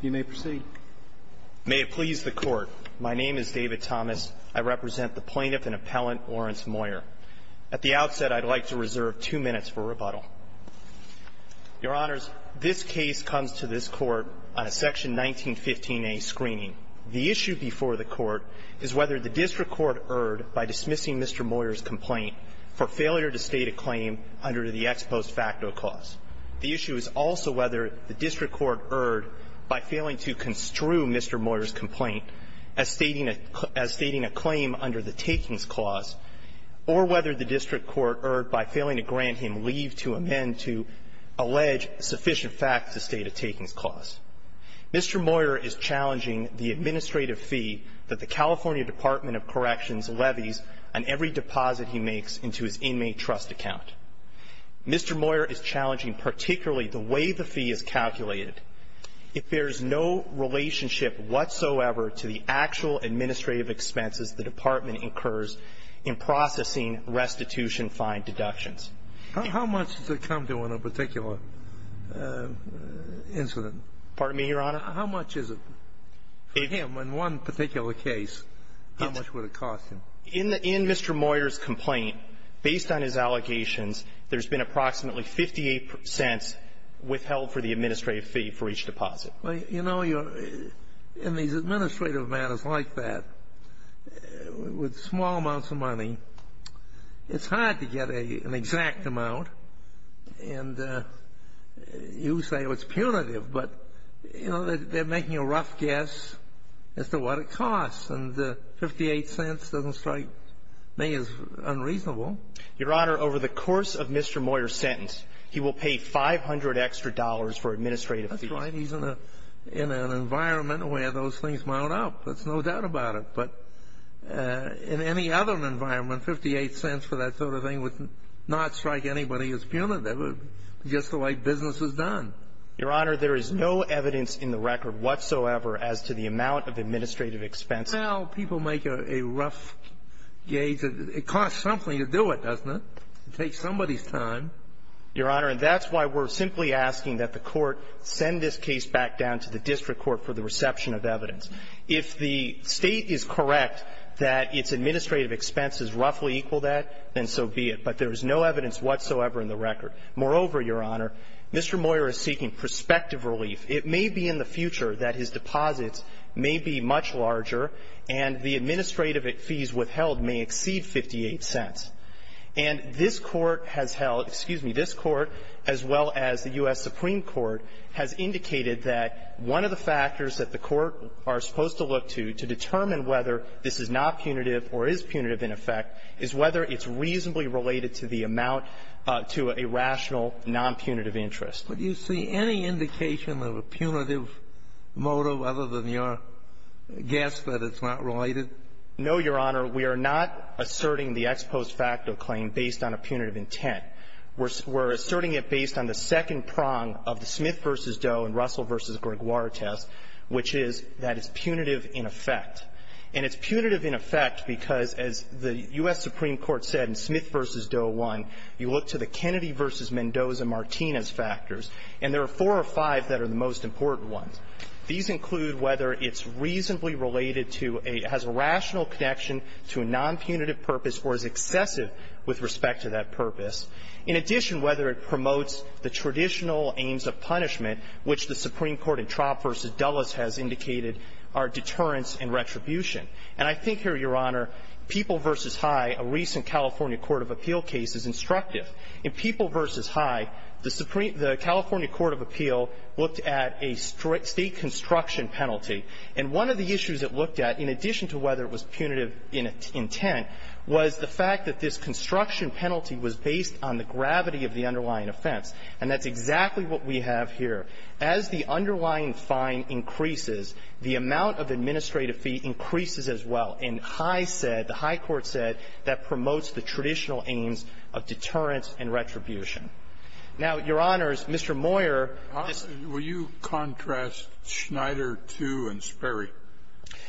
You may proceed. May it please the Court. My name is David Thomas. I represent the plaintiff and appellant Lawrence Moyer. At the outset, I'd like to reserve two minutes for rebuttal. Your Honors, this case comes to this Court on a section 1915a screening. The issue before the Court is whether the district court erred by dismissing Mr. Moyer's complaint for failure to state a claim under the ex post facto clause. The issue is also whether the district court erred by failing to construe Mr. Moyer's complaint as stating a claim under the takings clause, or whether the district court erred by failing to grant him leave to amend to allege sufficient facts to state a takings clause. Mr. Moyer is challenging the administrative fee that the California Department of Corrections levies on every deposit he makes into his inmate trust account. Mr. Moyer is challenging particularly the way the fee is calculated, if there is no relationship whatsoever to the actual administrative expenses the department incurs in processing restitution fine deductions. How much does it come to in a particular incident? Pardon me, Your Honor? How much is it for him in one particular case? How much would it cost him? In Mr. Moyer's complaint, based on his allegations, there's been approximately 58 cents withheld for the administrative fee for each deposit. Well, you know, in these administrative matters like that, with small amounts of money, it's hard to get an exact amount. And you say, well, it's punitive, but, you know, they're making a rough guess as to what it costs, and 58 cents doesn't strike me as unreasonable. Your Honor, over the course of Mr. Moyer's sentence, he will pay 500 extra dollars for administrative fees. That's right. He's in an environment where those things mount up. There's no doubt about it. But in any other environment, 58 cents for that sort of thing would not strike anybody as punitive, just the way business is done. Your Honor, there is no evidence in the record whatsoever as to the amount of administrative expenses. Well, people make a rough gauge. It costs something to do it, doesn't it? It takes somebody's time. Your Honor, and that's why we're simply asking that the Court send this case back down to the district court for the reception of evidence. If the State is correct that its administrative expenses roughly equal that, then so be it. But there is no evidence whatsoever in the record. Moreover, Your Honor, Mr. Moyer is seeking prospective relief. It may be in the future that his deposits may be much larger, and the administrative fees withheld may exceed 58 cents. And this Court has held – excuse me – this Court, as well as the U.S. Supreme Court, has indicated that one of the factors that the Court are supposed to look to to determine whether this is not punitive or is punitive in effect is whether it's reasonably related to the amount to a rational, nonpunitive interest. But do you see any indication of a punitive motive other than your guess that it's not related? No, Your Honor. We are not asserting the ex post facto claim based on a punitive intent. We're asserting it based on the second prong of the Smith v. Doe and Russell v. Gregoire test, which is that it's punitive in effect. And it's punitive in effect because as the U.S. Supreme Court said in Smith v. Doe 1, you look to the Kennedy v. Mendoza and Martinez factors, and there are four or five that are the most important ones. These include whether it's reasonably related to a – has a rational connection to a nonpunitive purpose or is excessive with respect to that purpose. In addition, whether it promotes the traditional aims of punishment, which the Supreme Court in Traub v. Dulles has indicated are deterrence and retribution. And I think here, Your Honor, People v. High, a recent California court of appeal case, is instructive. In People v. High, the California court of appeal looked at a state construction penalty. And one of the issues it looked at, in addition to whether it was punitive intent, was the fact that this construction penalty was based on the gravity of the underlying offense. And that's exactly what we have here. As the underlying fine increases, the amount of administrative fee increases as well. And High said – the High court said that promotes the traditional aims of deterrence and retribution. Now, Your Honors, Mr. Moyer – Sotomayor, will you contrast Schneider II and Sperry?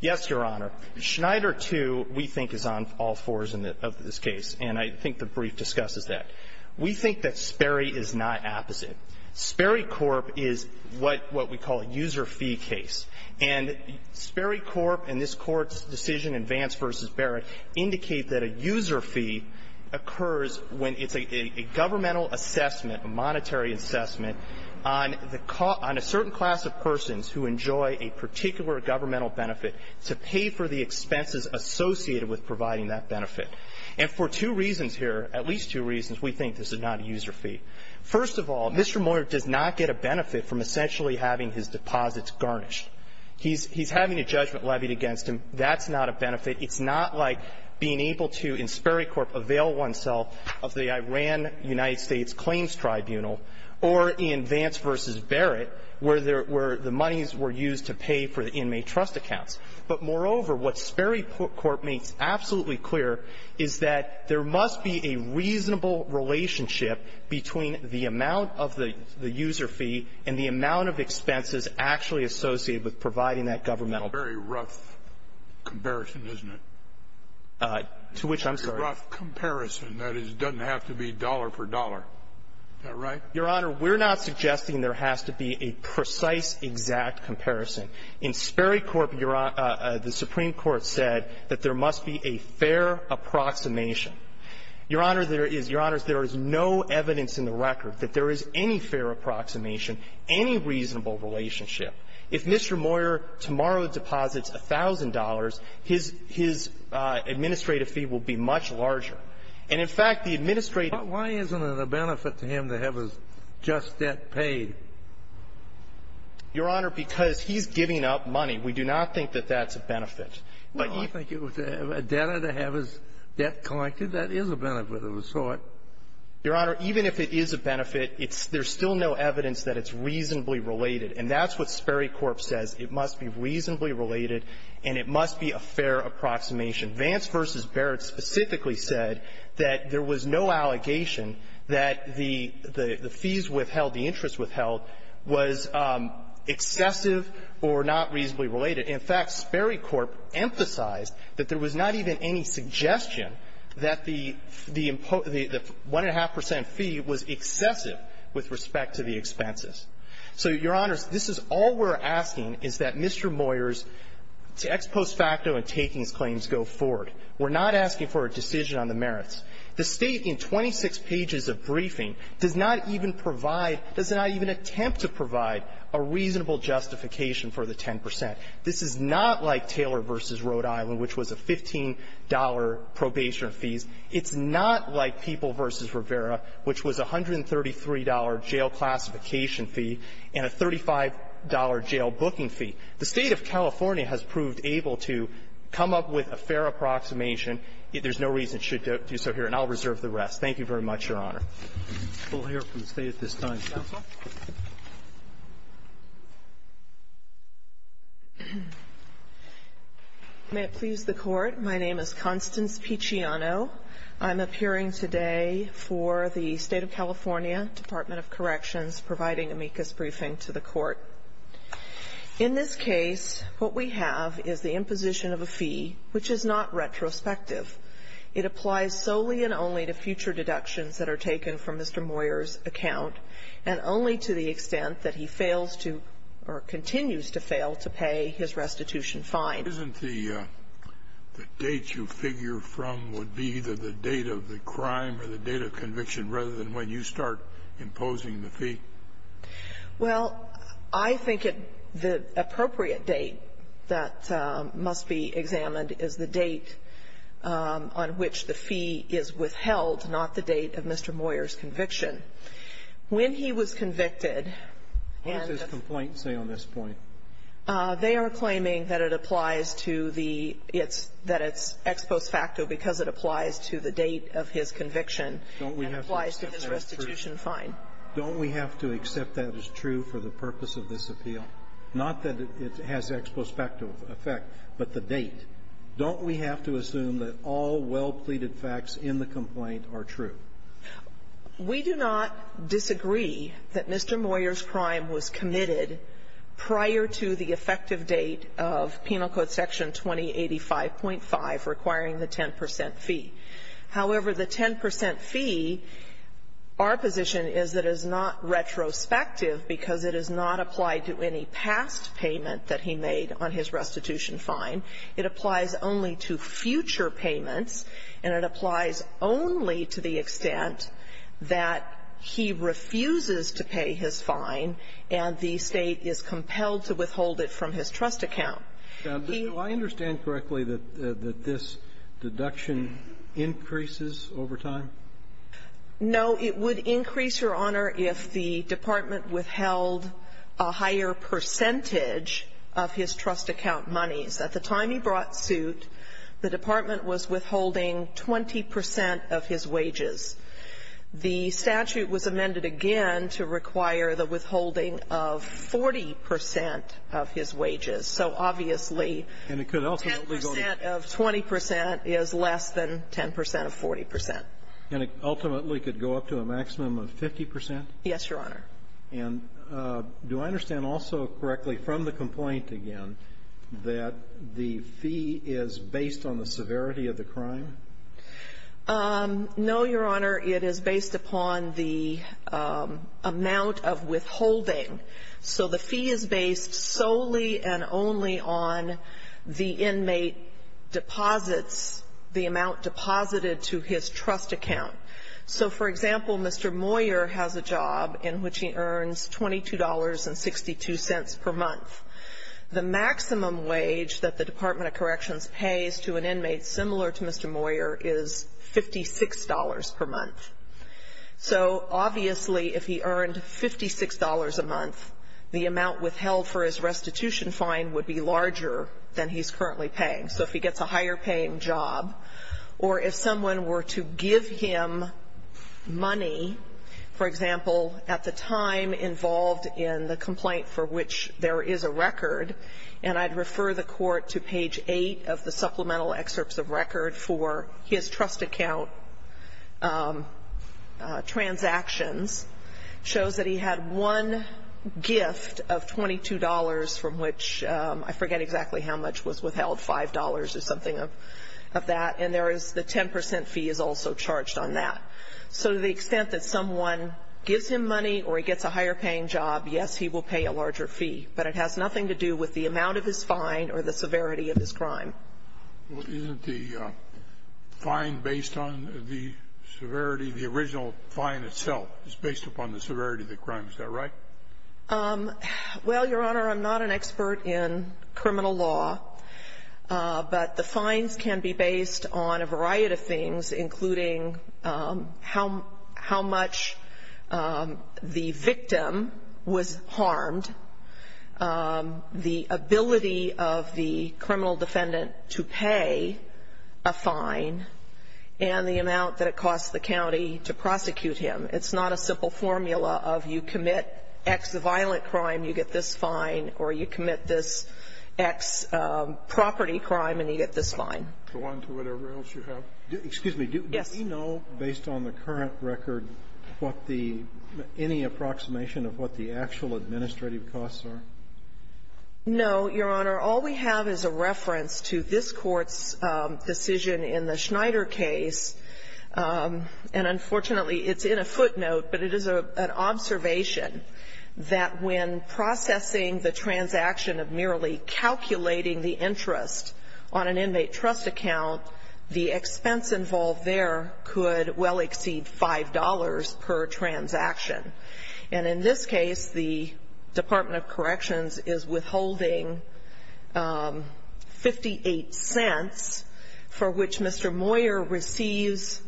Yes, Your Honor. Schneider II, we think, is on all fours in this case, and I think the brief discusses that. We think that Sperry is not opposite. Sperry Corp. is what we call a user fee case. And Sperry Corp. and this Court's decision in Vance v. Barrett indicate that a user fee occurs when it's a governmental assessment, a monetary assessment, on a certain class of persons who enjoy a particular governmental benefit to pay for the expenses associated with providing that benefit. And for two reasons here, at least two reasons, we think this is not a user fee. First of all, Mr. Moyer does not get a benefit from essentially having his deposits garnished. He's having a judgment levied against him. That's not a benefit. It's not like being able to, in Sperry Corp., avail oneself of the Iran-United States Claims Tribunal or in Vance v. Barrett, where the monies were used to pay for the inmate trust accounts. But moreover, what Sperry Corp. makes absolutely clear is that there must be a reasonable relationship between the amount of the user fee and the amount of expenses actually associated with providing that governmental benefit. Scalia. It's a very rough comparison, isn't it? Goldstein. To which I'm sorry? Scalia. It's a very rough comparison. That is, it doesn't have to be dollar for dollar. Is that right? Goldstein. Your Honor, we're not suggesting there has to be a precise, exact comparison. In Sperry Corp., the Supreme Court said that there must be a fair approximation. Your Honor, there is. Your Honor, there is no evidence in the record that there is any fair approximation, any reasonable relationship. If Mr. Moyer tomorrow deposits $1,000, his administrative fee will be much larger. And, in fact, the administrative ---- Kennedy. But why isn't it a benefit to him to have his just debt paid? Goldstein. Your Honor, because he's giving up money. We do not think that that's a benefit. But you think it was a debtor to have his debt collected? That is a benefit of a sort. Goldstein. Your Honor, even if it is a benefit, it's ---- there's still no evidence that it's reasonably related. And that's what Sperry Corp. says. It must be reasonably related, and it must be a fair approximation. Vance v. Barrett specifically said that there was no allegation that the fees withheld, the interest withheld, was excessive or not reasonably related. In fact, Sperry Corp. emphasized that there was not even any suggestion that the ---- the 1.5 percent fee was excessive with respect to the expenses. So, Your Honors, this is all we're asking, is that Mr. Moyer's ex post facto and takings claims go forward. We're not asking for a decision on the merits. The State, in 26 pages of briefing, does not even provide ---- does not even attempt to provide a reasonable justification for the 10 percent. This is not like Taylor v. Rhode Island, which was a $15 probation fee. It's not like People v. Rivera, which was a $133 jail classification fee and a $35 jail booking fee. The State of California has proved able to come up with a fair approximation. There's no reason it should do so here. And I'll reserve the rest. Thank you very much, Your Honor. We'll hear from the State at this time. Counsel. May it please the Court. My name is Constance Picciano. I'm appearing today for the State of California Department of Corrections, providing amicus briefing to the Court. In this case, what we have is the imposition of a fee, which is not retrospective. It applies solely and only to future deductions that are taken from Mr. Moyer's account, and only to the extent that he fails to or continues to fail to pay his restitution fine. Isn't the date you figure from would be either the date of the crime or the date of conviction rather than when you start imposing the fee? Well, I think the appropriate date that must be examined is the date on which the fee is withheld, not the date of Mr. Moyer's conviction. When he was convicted and the What does his complaint say on this point? They are claiming that it applies to the ex post facto because it applies to the date of his conviction and applies to his restitution fine. Don't we have to accept that as true for the purpose of this appeal? Not that it has ex post facto effect, but the date. Don't we have to assume that all well-pleaded facts in the complaint are true? We do not disagree that Mr. Moyer's crime was committed prior to the effective date of Penal Code Section 2085.5 requiring the 10 percent fee. However, the 10 percent fee, our position is that is not retrospective because it is not applied to any past payment that he made on his restitution fine. It applies only to future payments, and it applies only to the extent that he refuses to pay his fine and the State is compelled to withhold it from his trust account. Do I understand correctly that this deduction increases over time? No, it would increase, Your Honor, if the department withheld a higher percentage of his trust account monies. At the time he brought suit, the department was withholding 20 percent of his wages. The statute was amended again to require the withholding of 40 percent of his wages. So obviously 10 percent of 20 percent is less than 10 percent of 40 percent. And it ultimately could go up to a maximum of 50 percent? Yes, Your Honor. And do I understand also correctly from the complaint again that the fee is based on the severity of the crime? No, Your Honor. It is based upon the amount of withholding. So the fee is based solely and only on the inmate deposits, the amount deposited to his trust account. So, for example, Mr. Moyer has a job in which he earns $22.62 per month. The maximum wage that the Department of Corrections pays to an inmate similar to Mr. Moyer is $56 per month. So obviously if he earned $56 a month, the amount withheld for his restitution fine would be larger than he's currently paying. So if he gets a higher-paying job, or if someone were to give him money, for example, at the time involved in the complaint for which there is a record, and I'd refer the Court to page 8 of the supplemental excerpts of record for his trust account transactions shows that he had one gift of $22 from which I forget exactly how much was withheld, $5 or something of that. And there is the 10 percent fee is also charged on that. So to the extent that someone gives him money or he gets a higher-paying job, yes, he will pay a larger fee. But it has nothing to do with the amount of his fine or the severity of his crime. Well, isn't the fine based on the severity of the original fine itself? It's based upon the severity of the crime. Is that right? Well, Your Honor, I'm not an expert in criminal law. But the fines can be based on a variety of things, including how much the victim was harmed, the ability of the criminal defendant to pay a fine, and the amount that it costs the county to prosecute him. It's not a simple formula of you commit X violent crime, you get this fine, or you commit this X property crime, and you get this fine. Go on to whatever else you have. Excuse me. Yes. Do we know, based on the current record, what the any approximation of what the actual administrative costs are? No, Your Honor. All we have is a reference to this Court's decision in the Schneider case. And unfortunately, it's in a footnote, but it is an observation that when processing the transaction of merely calculating the interest on an inmate trust account, the expense involved there could well exceed $5 per transaction. And in this case, the Department of Corrections is withholding 58 cents for which Mr. Moyer receives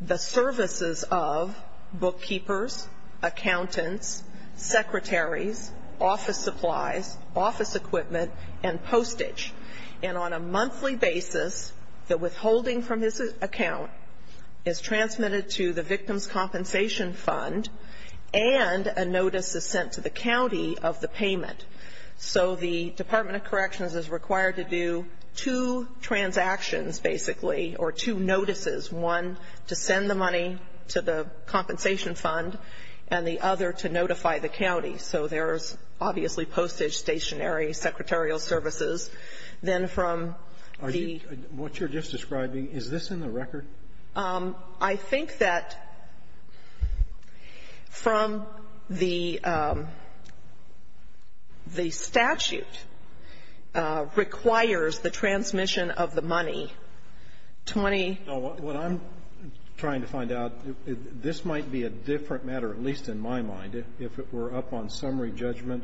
the services of bookkeepers, accountants, secretaries, office supplies, office equipment, and postage. And on a monthly basis, the withholding from his account is transmitted to the victim's compensation fund, and a notice is sent to the county of the payment. So the Department of Corrections is required to do two transactions, basically, or two notices, one to send the money to the compensation fund, and the other to notify the county. So there's obviously postage, stationery, secretarial services. Then from the ---- What you're just describing, is this in the record? I think that from the statute requires the transmission of the money 20 ---- No. What I'm trying to find out, this might be a different matter, at least in my mind, if it were up on summary judgment,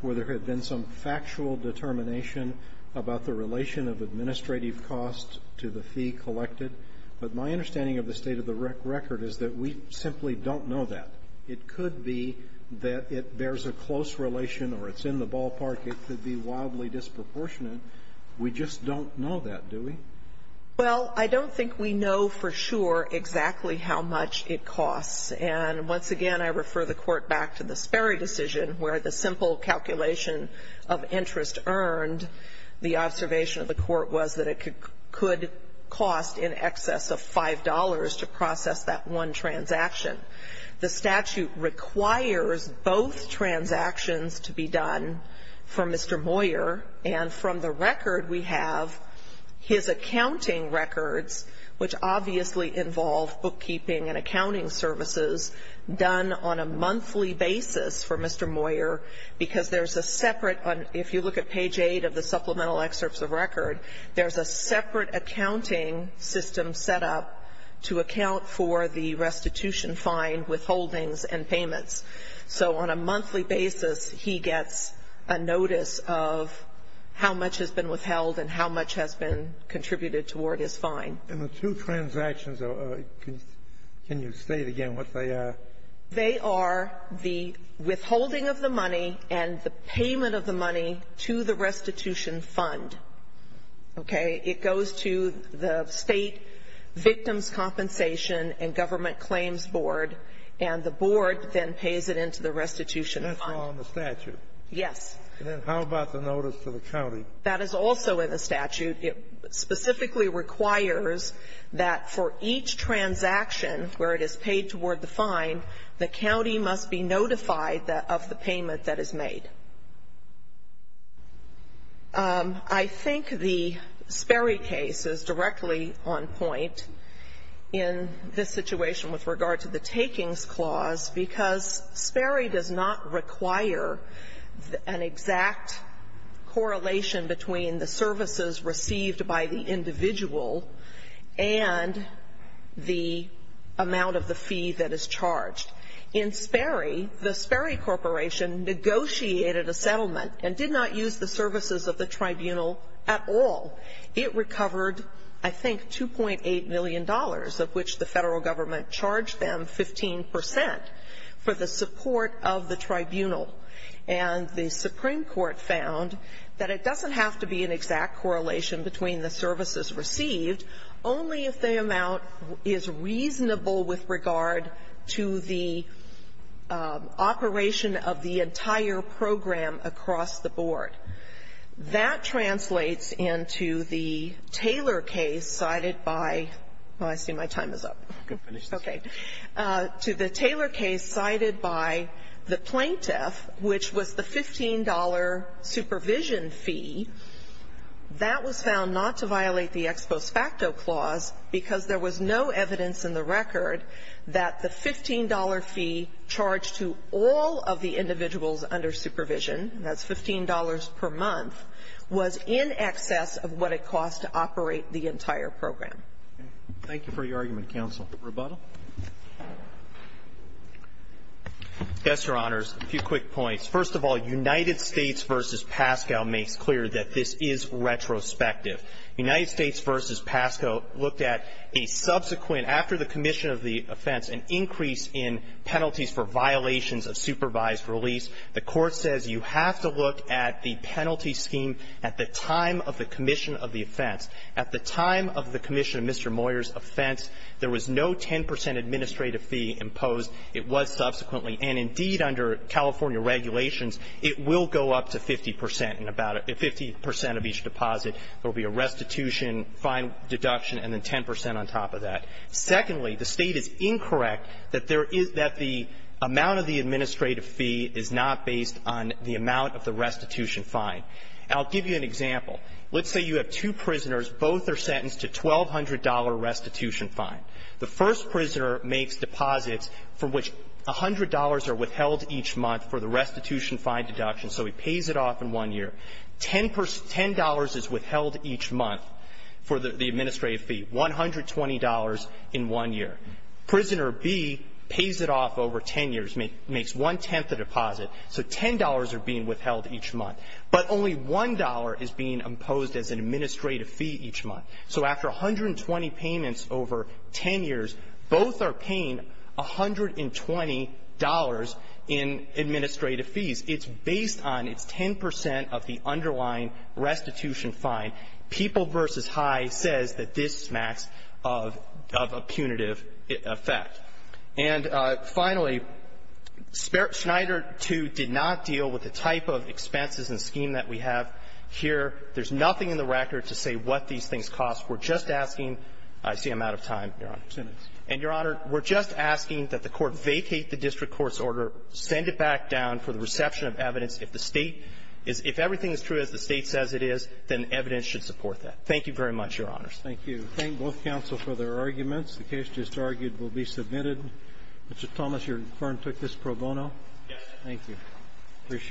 where there had been some factual determination about the relation of administrative costs to the fee collected. But my understanding of the state of the record is that we simply don't know that. It could be that it bears a close relation or it's in the ballpark. It could be wildly disproportionate. We just don't know that, do we? Well, I don't think we know for sure exactly how much it costs. And once again, I refer the Court back to the Sperry decision, where the simple calculation of interest earned, the observation of the Court was that it could cost in excess of $5 to process that one transaction. The statute requires both transactions to be done for Mr. Moyer, and from the record we have, his accounting records, which obviously involve bookkeeping and accounting services, done on a monthly basis for Mr. Moyer, because there's a separate, if you look at page 8 of the supplemental excerpts of record, there's a separate accounting system set up to account for the restitution fine, withholdings, and payments. So on a monthly basis, he gets a notice of how much has been withheld and how much has been contributed toward his fine. And the two transactions, can you state again what they are? They are the withholding of the money and the payment of the money to the restitution fund. Okay? It goes to the State Victims' Compensation and Government Claims Board, and the board then pays it into the restitution fund. That's all in the statute. Yes. Then how about the notice to the county? That is also in the statute. It specifically requires that for each transaction where it is paid toward the fine, the county must be notified of the payment that is made. I think the Sperry case is directly on point in this situation with regard to the takings clause, because Sperry does not require an exact correlation between the services received by the individual and the amount of the fee that is charged. In Sperry, the Sperry Corporation negotiated a settlement and did not use the services of the tribunal at all. It recovered, I think, $2.8 million, of which the Federal government charged them 15 percent, for the support of the tribunal. And the Supreme Court found that it doesn't have to be an exact correlation between the services received, only if the amount is reasonable with regard to the operation of the entire program across the board. That translates into the Taylor case cited by the plaintiff, which was the $15 supervision fee, that was found not to violate the ex post facto clause because there was no evidence in the record that the $15 fee charged to all of the individuals under supervision and that's $15 per month, was in excess of what it cost to operate the entire program. Thank you for your argument, counsel. Rebuttal. Yes, Your Honors. A few quick points. First of all, United States v. Pascal makes clear that this is retrospective. United States v. Pascal looked at a subsequent, after the commission of the offense, an increase in penalties for violations of supervised release. The Court says you have to look at the penalty scheme at the time of the commission of the offense. At the time of the commission of Mr. Moyer's offense, there was no 10 percent administrative fee imposed. It was subsequently. And indeed, under California regulations, it will go up to 50 percent in about 50 percent of each deposit. There will be a restitution, fine deduction, and then 10 percent on top of that. Secondly, the State is incorrect that there is that the amount of the administrative fee is not based on the amount of the restitution fine. I'll give you an example. Let's say you have two prisoners. Both are sentenced to a $1,200 restitution fine. The first prisoner makes deposits for which $100 are withheld each month for the restitution fine deduction, so he pays it off in one year. $10 is withheld each month for the administrative fee, $120 in one year. Prisoner B pays it off over 10 years, makes one-tenth the deposit. So $10 are being withheld each month. But only $1 is being imposed as an administrative fee each month. So after 120 payments over 10 years, both are paying $120 in administrative fees. It's based on, it's 10 percent of the underlying restitution fine. People v. High says that this smacks of a punitive effect. And finally, Schneider II did not deal with the type of expenses and scheme that we have here. There's nothing in the record to say what these things cost. We're just asking – I see I'm out of time, Your Honor. And, Your Honor, we're just asking that the Court vacate the district court's grounds for the reception of evidence. If the State is – if everything is true as the State says it is, then evidence should support that. Thank you very much, Your Honors. Thank you. Thank both counsel for their arguments. The case just argued will be submitted. Mr. Thomas, your firm took this pro bono? Yes. Thank you.